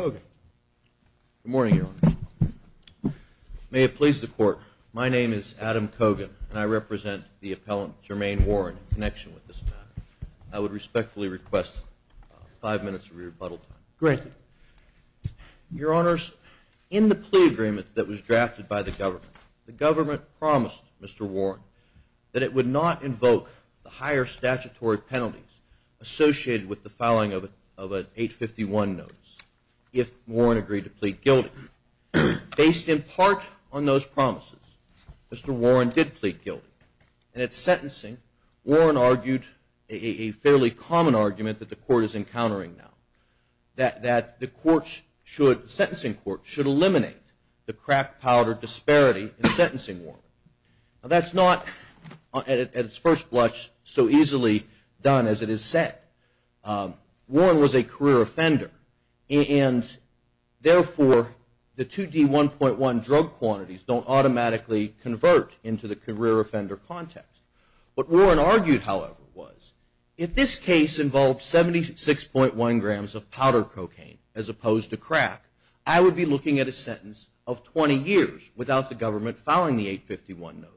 Good morning, Your Honor. May it please the Court, my name is Adam Kogan, and I represent the appellant, Jermaine Warren, in connection with this matter. I would respectfully request five minutes of rebuttal time. Granted. Your Honors, in the plea agreement that was drafted by the government, the government promised Mr. Warren that it would not invoke the higher if Warren agreed to plead guilty. Based in part on those promises, Mr. Warren did plead guilty. And at sentencing, Warren argued a fairly common argument that the Court is encountering now, that the court should, the sentencing court, should eliminate the crap powder disparity in sentencing Warren. Now that's not, at its first blush, so easily done as it is said. Warren was a career offender, and therefore the 2D1.1 drug quantities don't automatically convert into the career offender context. What Warren argued, however, was if this case involved 76.1 grams of powder cocaine as opposed to crack, I would be looking at a sentence of 20 years without the government filing the 851 notes.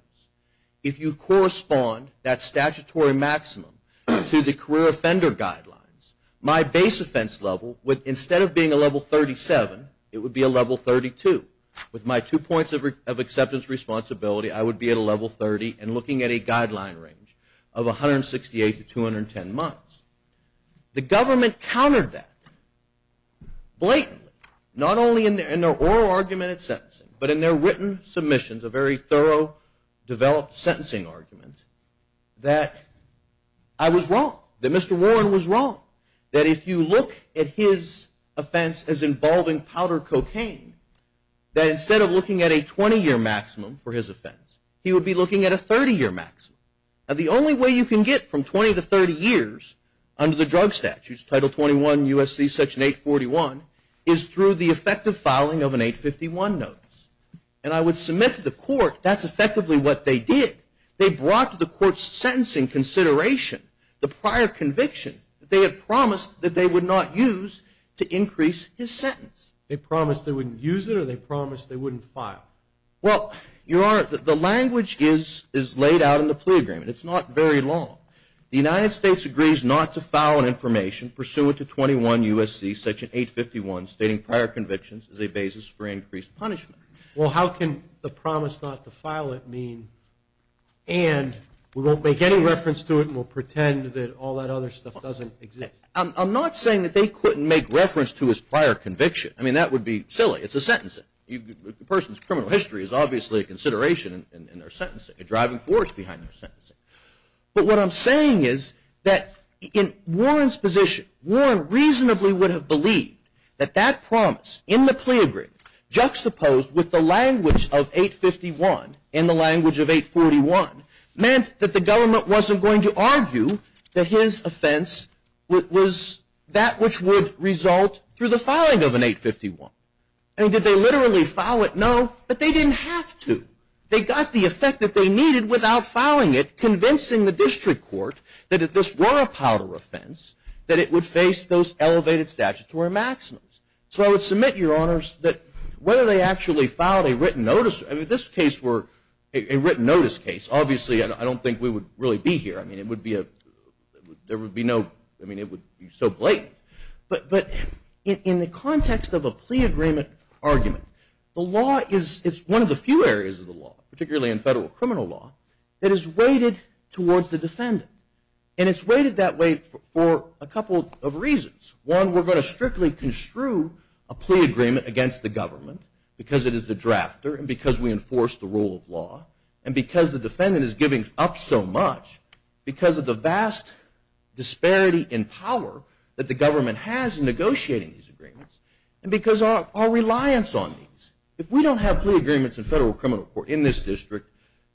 If you correspond that statutory maximum to the career offender guidelines, my base offense level would, instead of being a level 37, it would be a level 32. With my two points of acceptance responsibility, I would be at a level 30 and looking at a guideline range of 168 to 210 months. The government countered that blatantly, not only in their oral argument at sentencing, but in their legal argument. I was wrong, that Mr. Warren was wrong, that if you look at his offense as involving powder cocaine, that instead of looking at a 20-year maximum for his offense, he would be looking at a 30-year maximum. Now the only way you can get from 20 to 30 years under the drug statutes, Title 21, U.S.C. Section 841, is through the effective filing of an 851 notice. And I would submit to the court that's effectively what they did. They brought to the court's sentencing consideration the prior conviction that they had promised that they would not use to increase his sentence. They promised they wouldn't use it, or they promised they wouldn't file? Well, Your Honor, the language is laid out in the plea agreement. It's not very long. The United States agrees not to file an information pursuant to 21 U.S.C. Section 851, stating prior convictions as a basis for increased punishment. Well, how can the promise not to file it mean, and we won't make any reference to it, and we'll pretend that all that other stuff doesn't exist? I'm not saying that they couldn't make reference to his prior conviction. I mean, that would be silly. It's a sentencing. The person's criminal history is obviously a consideration in their sentencing, a driving force behind their sentencing. But what I'm saying is that in Warren's position, Warren reasonably would have believed that that promise in the plea agreement, juxtaposed with the language of 851 and the language of 841, meant that the government wasn't going to argue that his offense was that which would result through the filing of an 851. I mean, did they literally file it? No, but they didn't have to. They got the effect that they needed without filing it, convincing the district court that if this were a powder offense, that it would face those elevated statutory maximums. So I would submit, Your Honors, that whether they actually filed a written notice, I mean, if this case were a written notice case, obviously I don't think we would really be here. I mean, it would be a, there would be no, I mean, it would be so blatant. But in the context of a plea agreement argument, the law is, it's one of the few areas of the law, particularly in federal criminal law, that is weighted for a couple of reasons. One, we're going to strictly construe a plea agreement against the government, because it is the drafter, and because we enforce the rule of law, and because the defendant is giving up so much, because of the vast disparity in power that the government has in negotiating these agreements, and because our reliance on these. If we don't have plea agreements in federal criminal court in this district,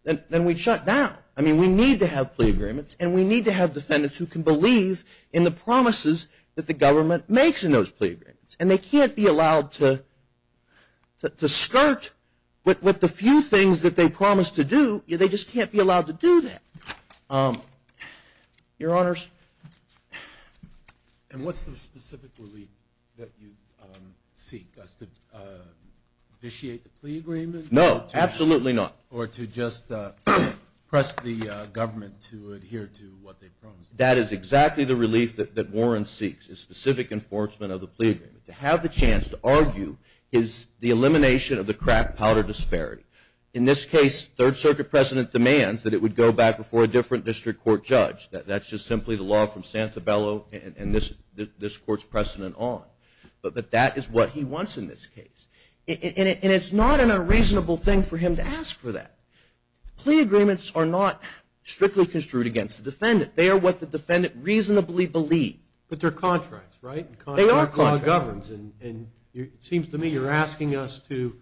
then we'd shut down. I mean, we need to have plea agreements, and we need to have defendants who can believe in the promises that the government makes in those plea agreements. And they can't be allowed to skirt with the few things that they promise to do. They just can't be allowed to do that. Your Honors? And what's the specific relief that you seek, as to vitiate the plea agreement? No, absolutely not. Or to just press the government to adhere to what they promise? That is exactly the relief that Warren seeks, is specific enforcement of the plea agreement. To have the chance to argue is the elimination of the crack powder disparity. In this case, Third Circuit precedent demands that it would go back before a different district court judge. That's just simply the law from Santabello and this court's precedent on. But that is what he wants in this case. And it's not an unreasonable thing for him to ask for that. Plea agreements are not strictly construed against the defendant. They are what the defendant reasonably believes. But they're contracts, right? They are contracts. The law governs, and it seems to me you're asking us to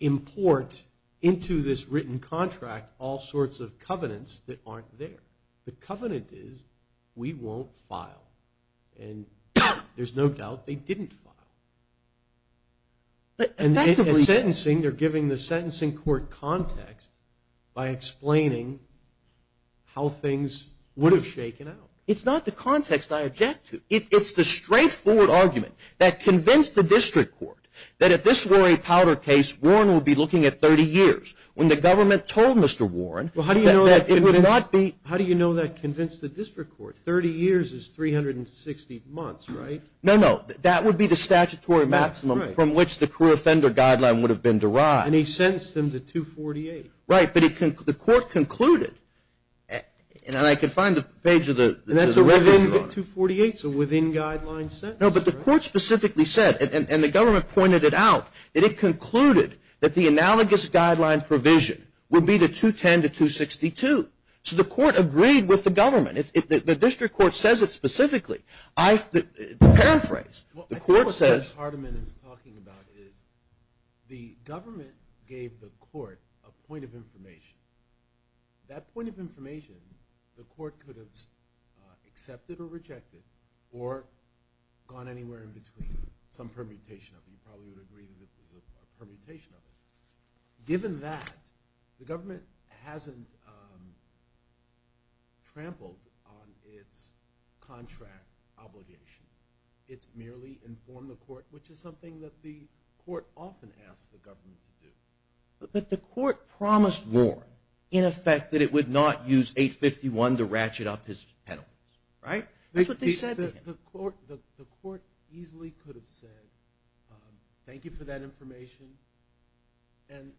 import into this written contract all sorts of covenants that aren't there. The covenant is, we won't file. And there's no doubt they didn't file. And in sentencing, they're giving the sentencing court context by explaining how things would have shaken out. It's not the context I object to. It's the straightforward argument that convinced the district court that if this were a powder case, Warren would be looking at 30 years. When the government told Mr. Warren that it would not be... How do you know that convinced the district court? 30 years is 360 months, right? No, no. That would be the statutory maximum from which the career offender guideline would have been derived. And he sentenced him to 248. Right, but the court concluded, and I can find the page of the record. And that's within 248, so within guideline sentences. No, but the court specifically said, and the government pointed it out, that it concluded that the analogous guideline provision would be the 210 to 262. So the court agreed with the government. The district court says it specifically. To paraphrase, the court says... Well, I think what Judge Hardiman is talking about is the government gave the court a point of information. That point of information, the court could have accepted or rejected, or gone anywhere in between. Some permutation of it. You probably would agree that there's a permutation of it. Given that, the government hasn't trampled on its contract obligation. It's merely informed the court, which is something that the court often asks the government to do. But the court promised Rohr, in effect, that it would not use 851 to ratchet up his penalties. Right? That's what they said. The court easily could have said, thank you for that information, and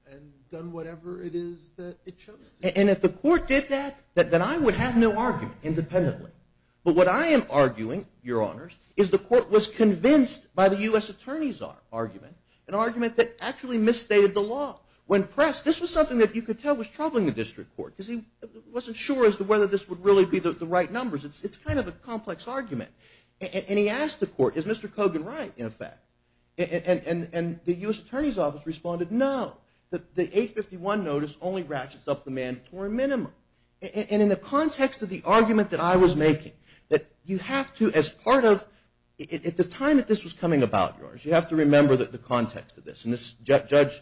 done whatever it is that it chose to do. And if the court did that, then I would have no argument, independently. But what I am arguing, Your Honors, is the court was convinced by the U.S. Attorney's argument, an argument that actually misstated the law. When pressed, this was something that you could tell was troubling the district court, because he wasn't sure as to whether this would really be the right numbers. It's kind of a complex argument. And he asked the court, is Mr. Kogan right, in effect? And the U.S. Attorney's Office responded, no. The 851 notice only ratchets up the mandatory minimum. And in the context of the argument that I was making, that you have to, as part of, at the time that this was coming about, Your Honors, you have to remember the context of this. And Judge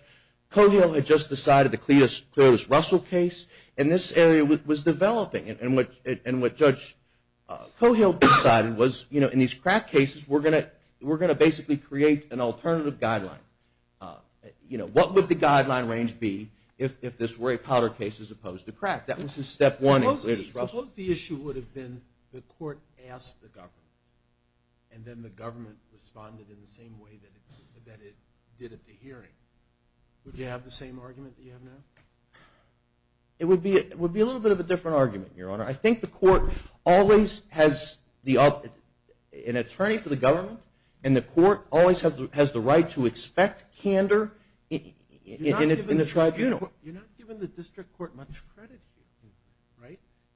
Kogel had just decided the Cletus Russell case, and this area was developing. And what Judge Kogel decided was, you know, in these crack cases, we're going to basically create an alternative guideline. You know, what would the guideline range be if this were a powder case as opposed to crack? That was his step one in Cletus Russell. Suppose the issue would have been the court asked the government, and then the government responded in the same way that it did at the hearing. Would you have the same argument that you have now? It would be a little bit of a different argument, Your Honor. I think the court always has an attorney for the government, and the court always has the right to expect candor in the tribunal. You're not giving the district court much credit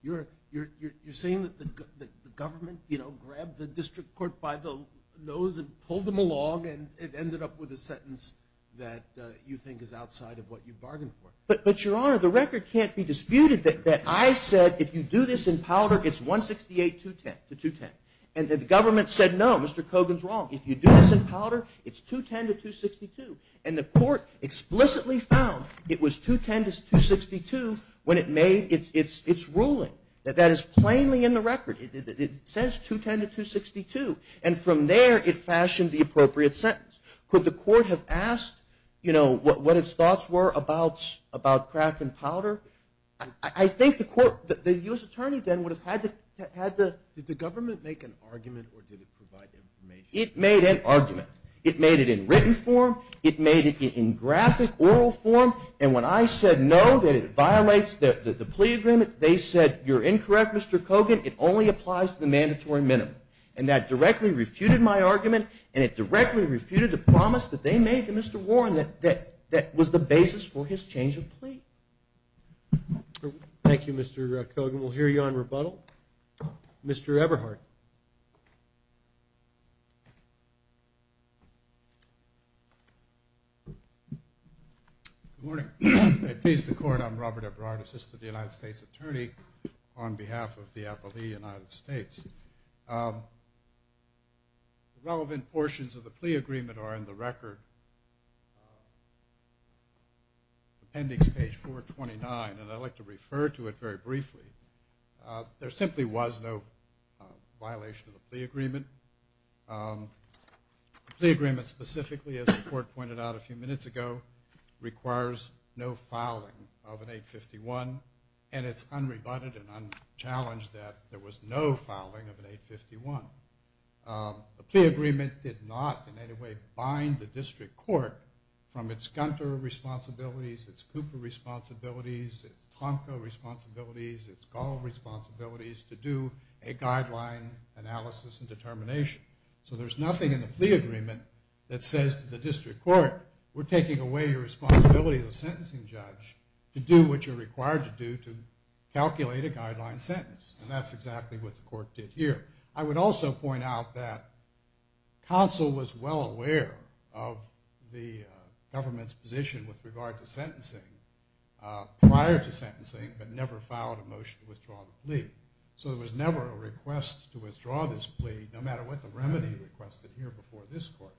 here, right? You're saying that the government, you know, grabbed the district court by the nose and pulled them along and it ended up with a sentence that you think is outside of what you bargained for. But, Your Honor, the record can't be disputed that I said, if you do this in powder, it's 168-210, the 210. And the government said, no, Mr. Kogel's wrong. If you do this in powder, it's 210-262. And the court explicitly found it was 210-262 when it made its ruling. That is plainly in the record. It says 210-262. And from there, it fashioned the appropriate sentence. Could the court have asked, you know, what its thoughts were about crack and powder? I think the court, the U.S. attorney then would have had to, did the government make an argument or did it provide information? It made an argument. It made it in written form. It made it in graphic, oral form. And when I said, no, that it violates the plea agreement, they said, you're incorrect, Mr. Kogel. It only applies to the mandatory minimum. And that directly refuted my argument, and it directly refuted the promise that they made to Mr. Warren that was the basis for his change of plea. Thank you, Mr. Kogel. We'll hear you on rebuttal. Mr. Eberhardt. Good morning. At peace the court, I'm Robert Eberhardt, attorney on behalf of the Appellee United States. The relevant portions of the plea agreement are in the record, appendix page 429, and I'd like to refer to it very briefly. There simply was no violation of the plea agreement. The plea agreement specifically, as the court pointed out a few minutes ago, requires no fouling of an 851, and it's unrebutted and unchallenged that there was no fouling of an 851. The plea agreement did not in any way bind the district court from its Gunter responsibilities, its Cooper responsibilities, its Honko responsibilities, its Gall responsibilities to do a guideline analysis and determination. So there's nothing in the plea agreement that says to the district court, we're taking away your responsibility as a sentencing judge to do what you're required to do to calculate a guideline sentence, and that's exactly what the court did here. I would also point out that counsel was well aware of the government's position with regard to sentencing prior to sentencing but never filed a motion to withdraw the plea. So there was never a request to withdraw this plea, no matter what the remedy requested here before this court.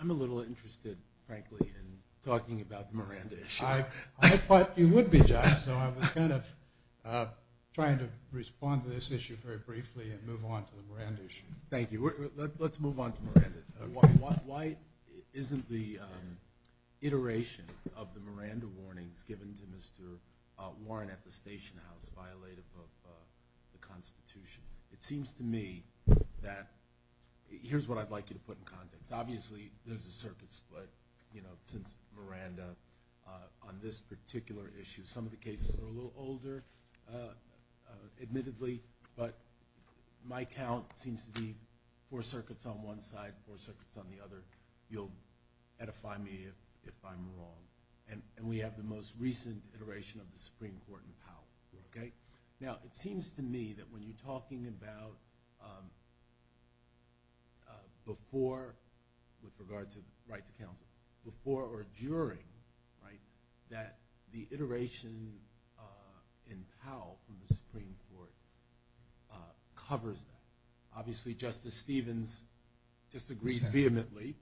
I'm a little interested, frankly, in talking about the Miranda issue. I thought you would be, John, so I was kind of trying to respond to this issue very briefly and move on to the Miranda issue. Thank you. Let's move on to Miranda. Why isn't the iteration of the Miranda warnings given to Mr. Warren at the station house violative of the Constitution? It seems to me that here's what I'd like you to put in context. Obviously, there's a circuit split since Miranda on this particular issue. Some of the cases are a little older, admittedly, but my count seems to be four circuits on one side, four circuits on the other. You'll edify me if I'm wrong. And we have the most recent iteration of the Supreme Court in power. Now, it seems to me that when you're talking about before, with regard to right to counsel, before or during that the iteration in power from the Supreme Court covers that. Obviously, Justice Stevens disagreed vehemently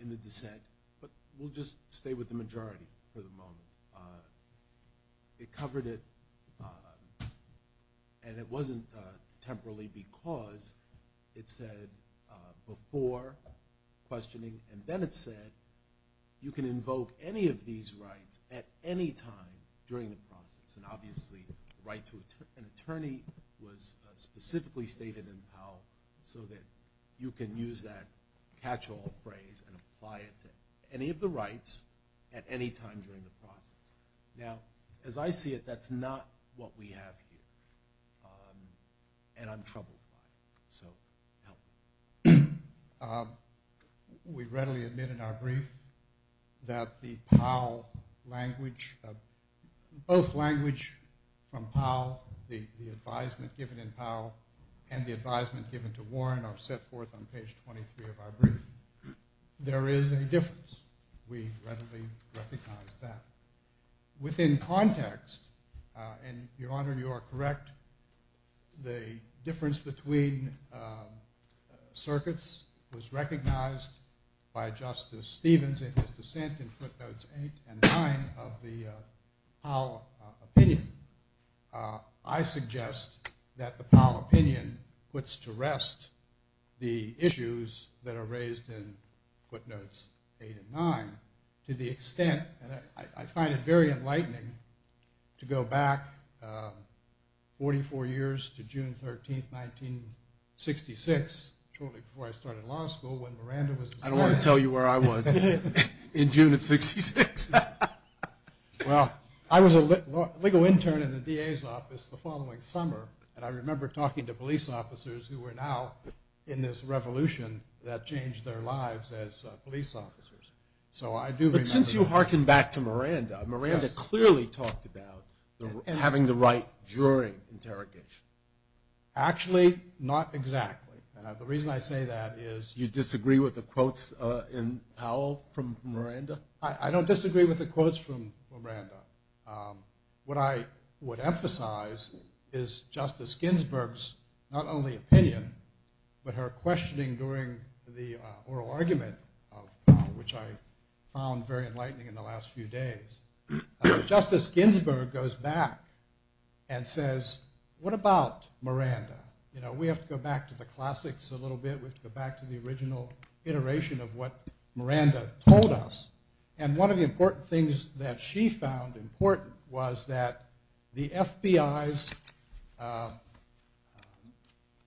in the dissent, but we'll just stay with the majority for the moment. It covered it, and it wasn't temporarily because. It said before questioning, and then it said, you can invoke any of these rights at any time during the process. And obviously, right to an attorney was specifically stated in the power so that you can use that catch-all phrase and apply it to any of the rights at any time during the process. Now, as I see it, that's not what we have here, and I'm troubled by it. So help me. We readily admit in our brief that the Powell language, both language from Powell, the advisement given in Powell, and the advisement given to Warren are set forth on page 23 of our brief. There is a difference. We readily recognize that. Within context, and, Your Honor, you are correct, the difference between circuits was recognized by Justice Stevens in his dissent in footnotes 8 and 9 of the Powell opinion. I suggest that the Powell opinion puts to rest the issues that are raised in footnotes 8 and 9 to the extent, and I find it very enlightening, to go back 44 years to June 13, 1966, shortly before I started law school, I don't want to tell you where I was in June of 1966. Well, I was a legal intern in the DA's office the following summer, and I remember talking to police officers who were now in this revolution that changed their lives as police officers. But since you harken back to Miranda, Miranda clearly talked about having the right during interrogation. Actually, not exactly. The reason I say that is you disagree with the quotes in Powell from Miranda? I don't disagree with the quotes from Miranda. What I would emphasize is Justice Ginsburg's not only opinion, but her questioning during the oral argument, which I found very enlightening in the last few days. Justice Ginsburg goes back and says, what about Miranda? You know, we have to go back to the classics a little bit. We have to go back to the original iteration of what Miranda told us. And one of the important things that she found important was that the FBI's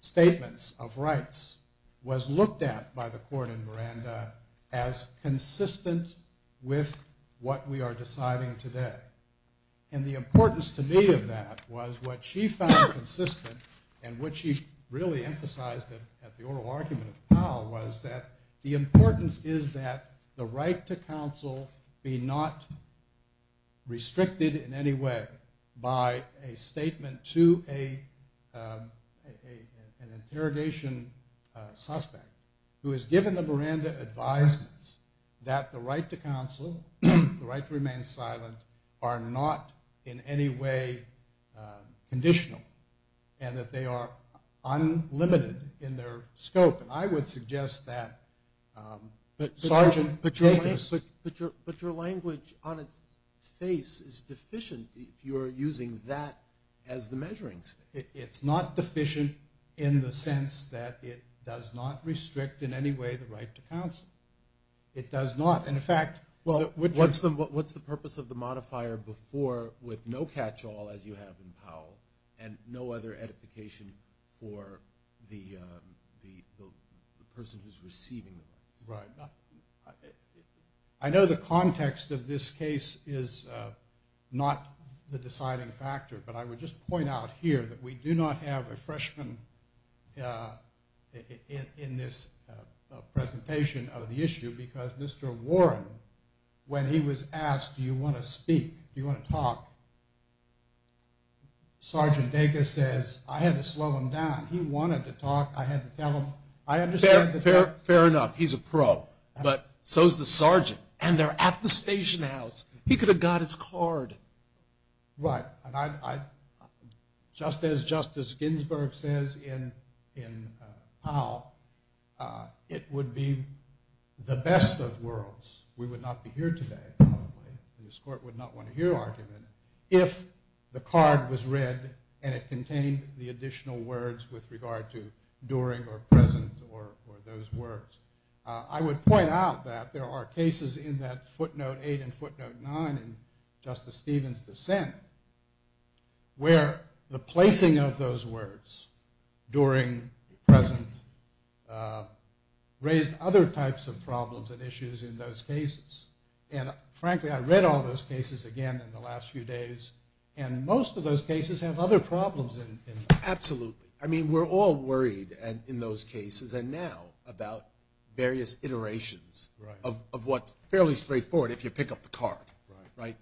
statements of rights was looked at by the court in Miranda as consistent with what we are deciding today. And the importance to me of that was what she found consistent and what she really emphasized at the oral argument of Powell was that the importance is that the right to counsel be not restricted in any way by a statement to an interrogation suspect who has given the Miranda advisements that the right to counsel, the right to remain silent, are not in any way conditional. And that they are unlimited in their scope. And I would suggest that Sargent take this. But your language on its face is deficient if you are using that as the measuring stick. It's not deficient in the sense that it does not restrict in any way the right to counsel. It does not. And, in fact, what's the purpose of the modifier before with no catch-all, as you have in Powell, and no other edification for the person who's receiving the advice. Right. I know the context of this case is not the deciding factor, but I would just point out here that we do not have a freshman in this presentation of the issue because Mr. Warren, when he was asked, do you want to speak, do you want to talk, Sargent Dacus says, I had to slow him down. He wanted to talk. I had to tell him. Fair enough. He's a pro. But so is the Sargent. And they're at the station house. He could have got his card. Right. And just as Justice Ginsburg says in Powell, it would be the best of worlds. We would not be here today, probably, and this court would not want to hear argument if the card was read and it contained the additional words with regard to during or present or those words. I would point out that there are cases in that footnote eight and footnote nine in Justice Stevens' dissent where the placing of those words, during, present, raised other types of problems and issues in those cases. And, frankly, I read all those cases again in the last few days, and most of those cases have other problems in them. Absolutely. I mean, we're all worried in those cases and now about various iterations of what's fairly straightforward if you pick up the card. Right.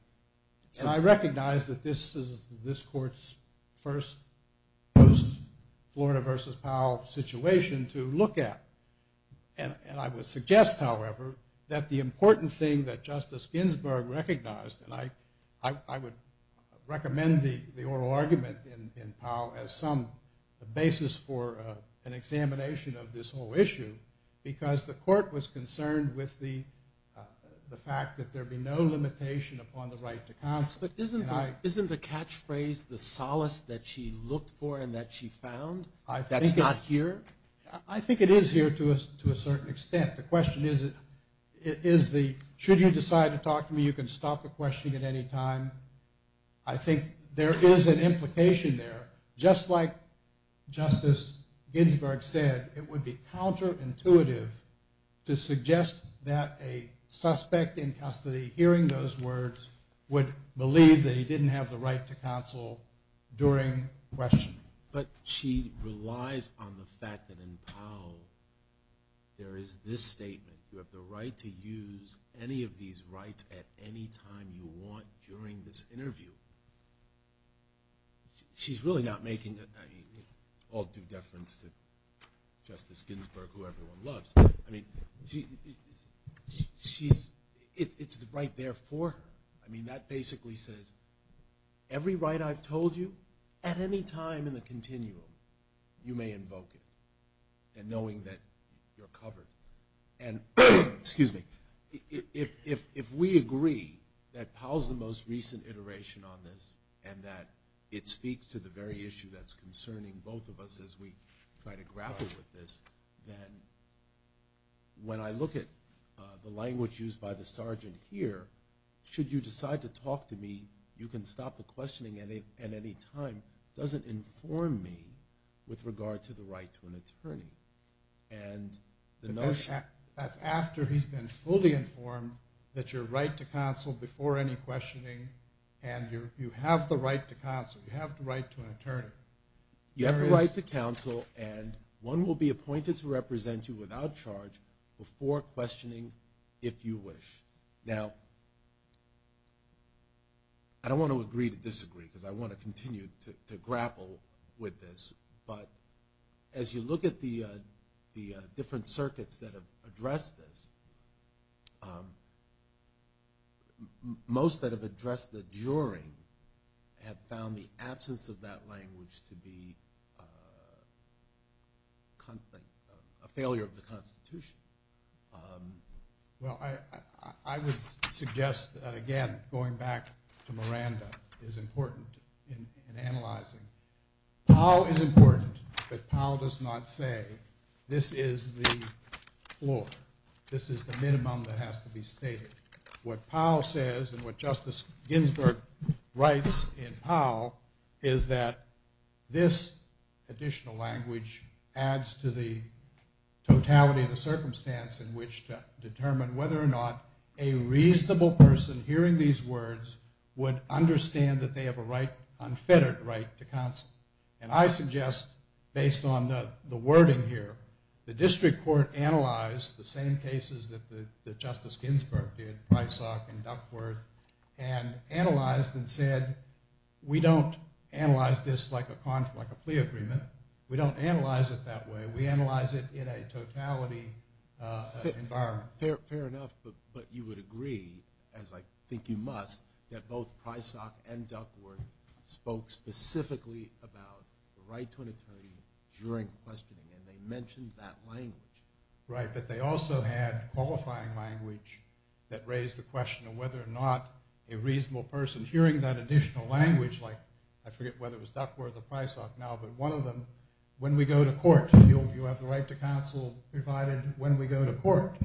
And I recognize that this is this court's first post-Florida versus Powell situation to look at. And I would suggest, however, that the important thing that Justice Ginsburg recognized, and I would recommend the oral argument in Powell as some basis for an examination of this whole issue because the court was concerned with the fact that there be no limitation upon the right to counsel. But isn't the catchphrase the solace that she looked for and that she found that's not here? I think it is here to a certain extent. The question is, should you decide to talk to me, you can stop the questioning at any time. I think there is an implication there. Just like Justice Ginsburg said, it would be counterintuitive to suggest that a hearing those words would believe that he didn't have the right to counsel during questioning. But she relies on the fact that in Powell there is this statement, you have the right to use any of these rights at any time you want during this interview. She's really not making all due deference to Justice Ginsburg, who everyone loves. I mean, it's right there for her. I mean, that basically says every right I've told you at any time in the continuum you may invoke it, and knowing that you're covered. And if we agree that Powell's the most recent iteration on this and that it speaks to the very issue that's concerning both of us as we try to grapple with this, then when I look at the language used by the sergeant here, should you decide to talk to me, you can stop the questioning at any time, doesn't inform me with regard to the right to an attorney. That's after he's been fully informed that you're right to counsel before any questioning and you have the right to counsel. You have the right to an attorney. You have the right to counsel, and one will be appointed to represent you without charge before questioning, if you wish. Now, I don't want to agree to disagree because I want to continue to grapple with this, but as you look at the different circuits that have addressed this, most that have addressed the jury have found the absence of that language to be a failure of the Constitution. Well, I would suggest, again, going back to Miranda, is important in analyzing. Powell is important, but Powell does not say this is the floor, this is the minimum that has to be stated. What Powell says and what Justice Ginsburg writes in Powell is that this additional language adds to the totality of the circumstance in which to determine whether or not a reasonable person hearing these words would understand that they have an unfettered right to counsel. And I suggest, based on the wording here, that the district court analyzed the same cases that Justice Ginsburg did, Prysock and Duckworth, and analyzed and said, we don't analyze this like a plea agreement. We don't analyze it that way. We analyze it in a totality environment. Fair enough, but you would agree, as I think you must, that both Prysock and Duckworth spoke specifically about the right to an unquestioning, and they mentioned that language. Right, but they also had qualifying language that raised the question of whether or not a reasonable person hearing that additional language, like I forget whether it was Duckworth or Prysock now, but one of them, when we go to court, you have the right to counsel provided when we go to court.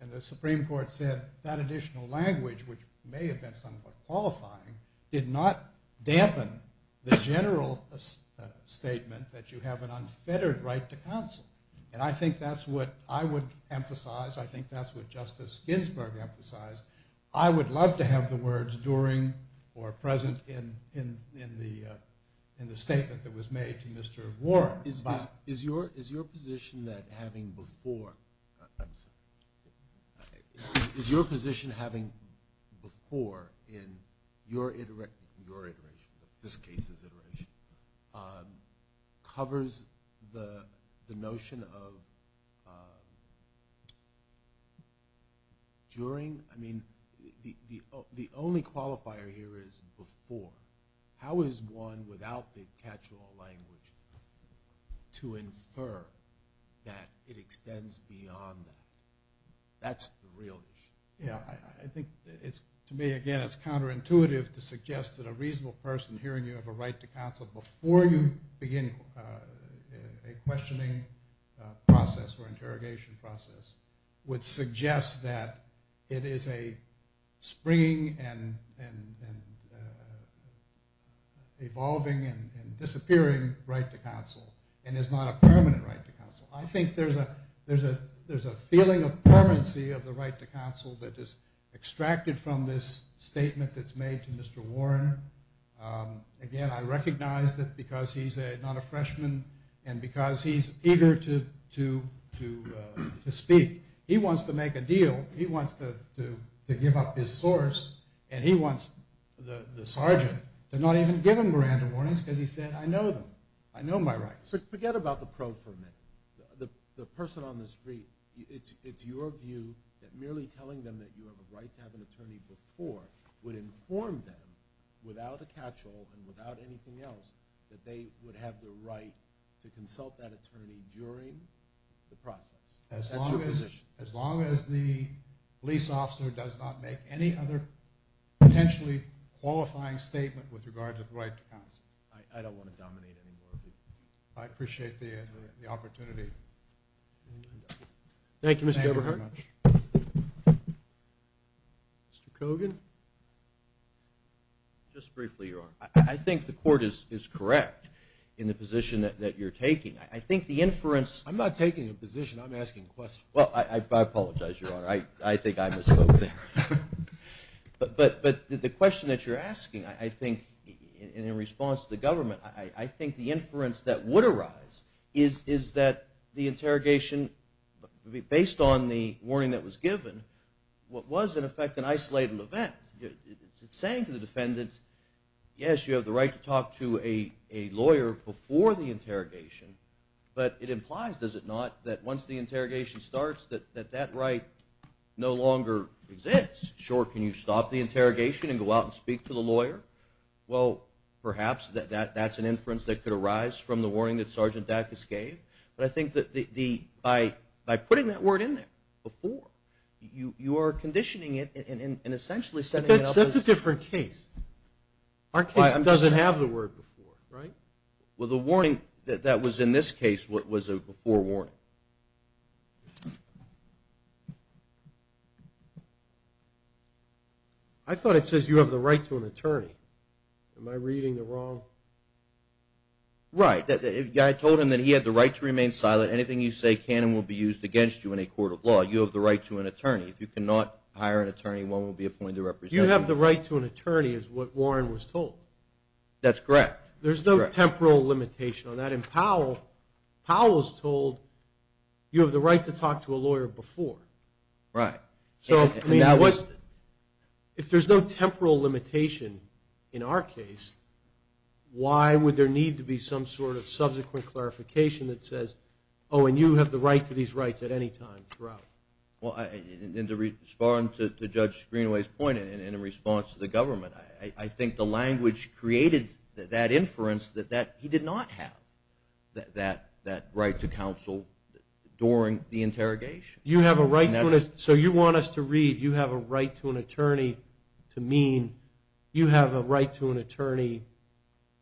And the Supreme Court said that additional language, which may have been somewhat qualifying, did not dampen the general statement that you have an unfettered right to counsel. And I think that's what I would emphasize. I think that's what Justice Ginsburg emphasized. I would love to have the words during or present in the statement that was made to Mr. Warren. Is your position that having before in your iteration, this case's iteration, covers the notion of during? I mean, the only qualifier here is before. How is one, without the catch-all language, to infer that it extends beyond that? That's the real issue. Yeah, I think to me, again, it's counterintuitive to suggest that a reasonable person hearing you have a right to counsel before you begin a questioning process or interrogation process would suggest that it is a springing and evolving and disappearing right to counsel and is not a permanent right to counsel. I think there's a feeling of permanency of the right to counsel that is extracted from this statement that's made to Mr. Warren. Again, I recognize that because he's not a freshman and because he's eager to speak. He wants to make a deal. He wants to give up his source, and he wants the sergeant to not even give him grand warnings because he said, I know them. I know my rights. Forget about the pro for a minute. The person on the street, it's your view that merely telling them that you have a right to have an attorney before would inform them, without a catch-all and without anything else, that they would have the right to consult that attorney during the process. That's your position. As long as the police officer does not make any other potentially qualifying statement with regards to the right to counsel. I don't want to dominate anymore. I appreciate the opportunity. Thank you, Mr. Eberhardt. Mr. Kogan. Just briefly, Your Honor. I think the court is correct in the position that you're taking. I think the inference. I'm not taking a position. I'm asking a question. Well, I apologize, Your Honor. I think I misspoke there. But the question that you're asking, I think, in response to the government, I think the inference that would arise is that the interrogation, based on the warning that was given, was, in effect, an isolated event. It's saying to the defendant, yes, you have the right to talk to a lawyer before the interrogation, but it implies, does it not, that once the interrogation starts, that that right no longer exists. Sure, can you stop the interrogation and go out and speak to the lawyer? Well, perhaps that's an inference that could arise from the warning that Sergeant Dacus gave. But I think that by putting that word in there before, you are conditioning it and essentially setting it up as the. But that's a different case. Our case doesn't have the word before, right? Well, the warning that was in this case was a before warning. I thought it says you have the right to an attorney. Am I reading it wrong? Right. I told him that he had the right to remain silent. Anything you say can and will be used against you in a court of law. You have the right to an attorney. If you cannot hire an attorney, one will be appointed to represent you. You have the right to an attorney is what Warren was told. That's correct. There's no temporal limitation on that. And Powell was told you have the right to talk to a lawyer before. Right. So if there's no temporal limitation in our case, why would there need to be some sort of subsequent clarification that says, oh, and you have the right to these rights at any time throughout? Well, in response to Judge Greenaway's point and in response to the government, I think the language created that inference that he did not have that right to counsel during the interrogation. So you want us to read you have a right to an attorney to mean you have a right to an attorney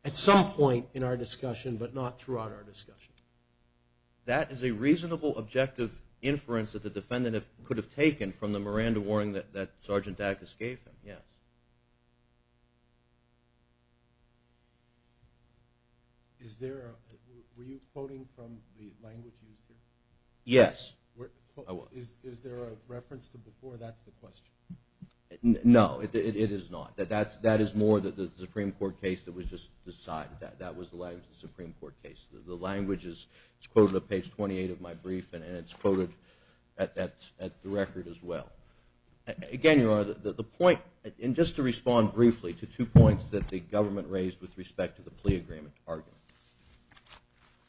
at some point in our discussion, but not throughout our discussion. That is a reasonable objective inference that the defendant could have taken from the Miranda warning that Sergeant Dack escaped him. Were you quoting from the language used here? Yes. Is there a reference to before? That's the question. No, it is not. That is more the Supreme Court case that was just decided. That was the Supreme Court case. The language is quoted on page 28 of my brief, and it's quoted at the record as well. Again, Your Honor, the point, and just to respond briefly to two points that the government raised with respect to the plea agreement argument.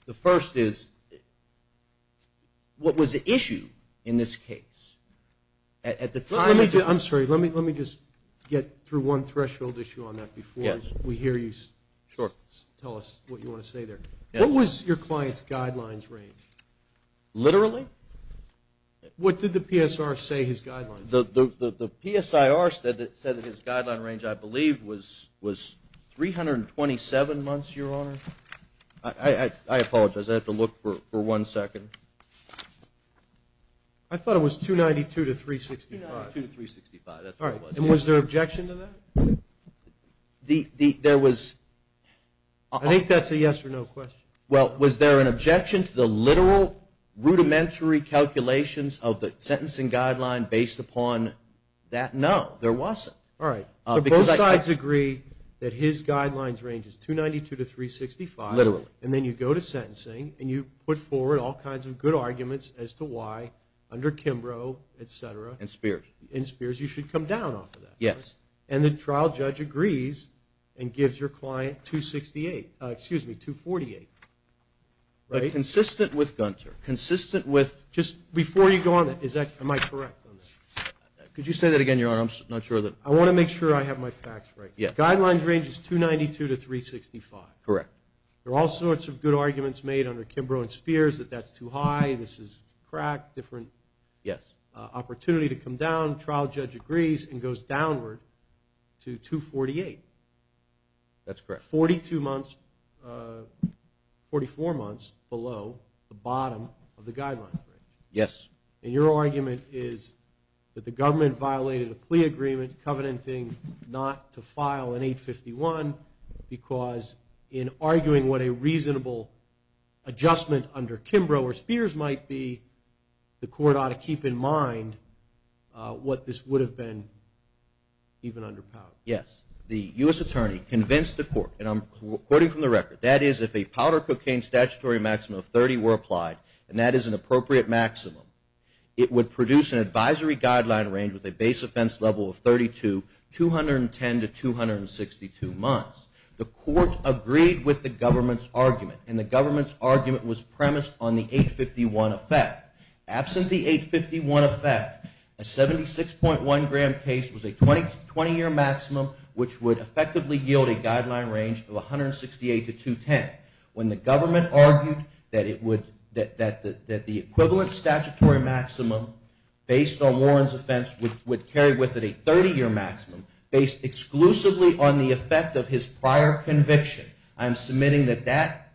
The first is what was the issue in this case? At the time of the ---- I'm sorry. Let me just get through one threshold issue on that before we hear you tell us what you want to say there. What was your client's guidelines range? Literally? What did the PSR say his guidelines were? The PSIR said that his guideline range, I believe, was 327 months, Your Honor. I apologize. I have to look for one second. I thought it was 292 to 365. 292 to 365. That's what it was. And was there an objection to that? There was. I think that's a yes or no question. Well, was there an objection to the literal, rudimentary calculations of the sentencing guideline based upon that? No, there wasn't. All right. So both sides agree that his guidelines range is 292 to 365. Literally. And then you go to sentencing, and you put forward all kinds of good arguments as to why, under Kimbrough, et cetera. And Spears. And Spears. You should come down off of that. Yes. And the trial judge agrees and gives your client 268. Excuse me, 248. Right? Consistent with Gunter. Consistent with. Just before you go on that, am I correct on that? Could you say that again, Your Honor? I'm not sure that. I want to make sure I have my facts right. Yes. Guidelines range is 292 to 365. Correct. There are all sorts of good arguments made under Kimbrough and Spears that that's too high, this is crack, different. Yes. Opportunity to come down. Trial judge agrees and goes downward to 248. That's correct. 42 months, 44 months below the bottom of the guidelines. Yes. And your argument is that the government violated a plea agreement covenanting not to file an 851 because in arguing what a reasonable adjustment under Kimbrough or Spears might be, the court ought to keep in mind what this would have been even under power. Yes. The U.S. attorney convinced the court, and I'm quoting from the record, that is if a powder cocaine statutory maximum of 30 were applied, and that is an appropriate maximum, it would produce an advisory guideline range with a base offense level of 32, The court agreed with the government's argument, and the government's argument was premised on the 851 effect. Absent the 851 effect, a 76.1 gram case was a 20-year maximum, which would effectively yield a guideline range of 168 to 210. When the government argued that the equivalent statutory maximum based on Warren's offense would carry with it a 30-year maximum based exclusively on the effect of his prior conviction, I'm submitting that that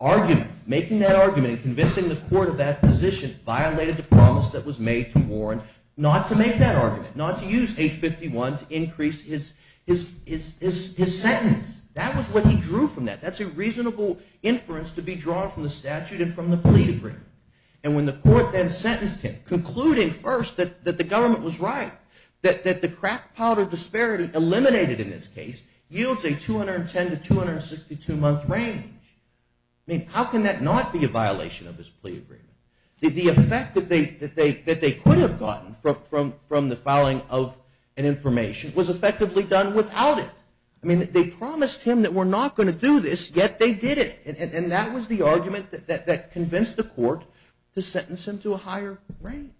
argument, making that argument and convincing the court of that position violated the promise that was made to Warren not to make that argument, not to use 851 to increase his sentence. That was what he drew from that. That's a reasonable inference to be drawn from the statute and from the plea agreement, and when the court then sentenced him, concluding first that the government was right, that the crack powder disparity eliminated in this case yields a 210 to 262-month range. I mean, how can that not be a violation of his plea agreement? The effect that they could have gotten from the filing of an information was effectively done without it. I mean, they promised him that we're not going to do this, yet they did it, and that was the argument that convinced the court to sentence him to a higher range.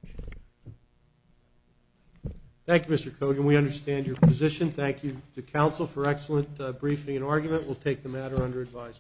Thank you, Mr. Kogan. We understand your position. Thank you to counsel for excellent briefing and argument. We'll take the matter under advisement.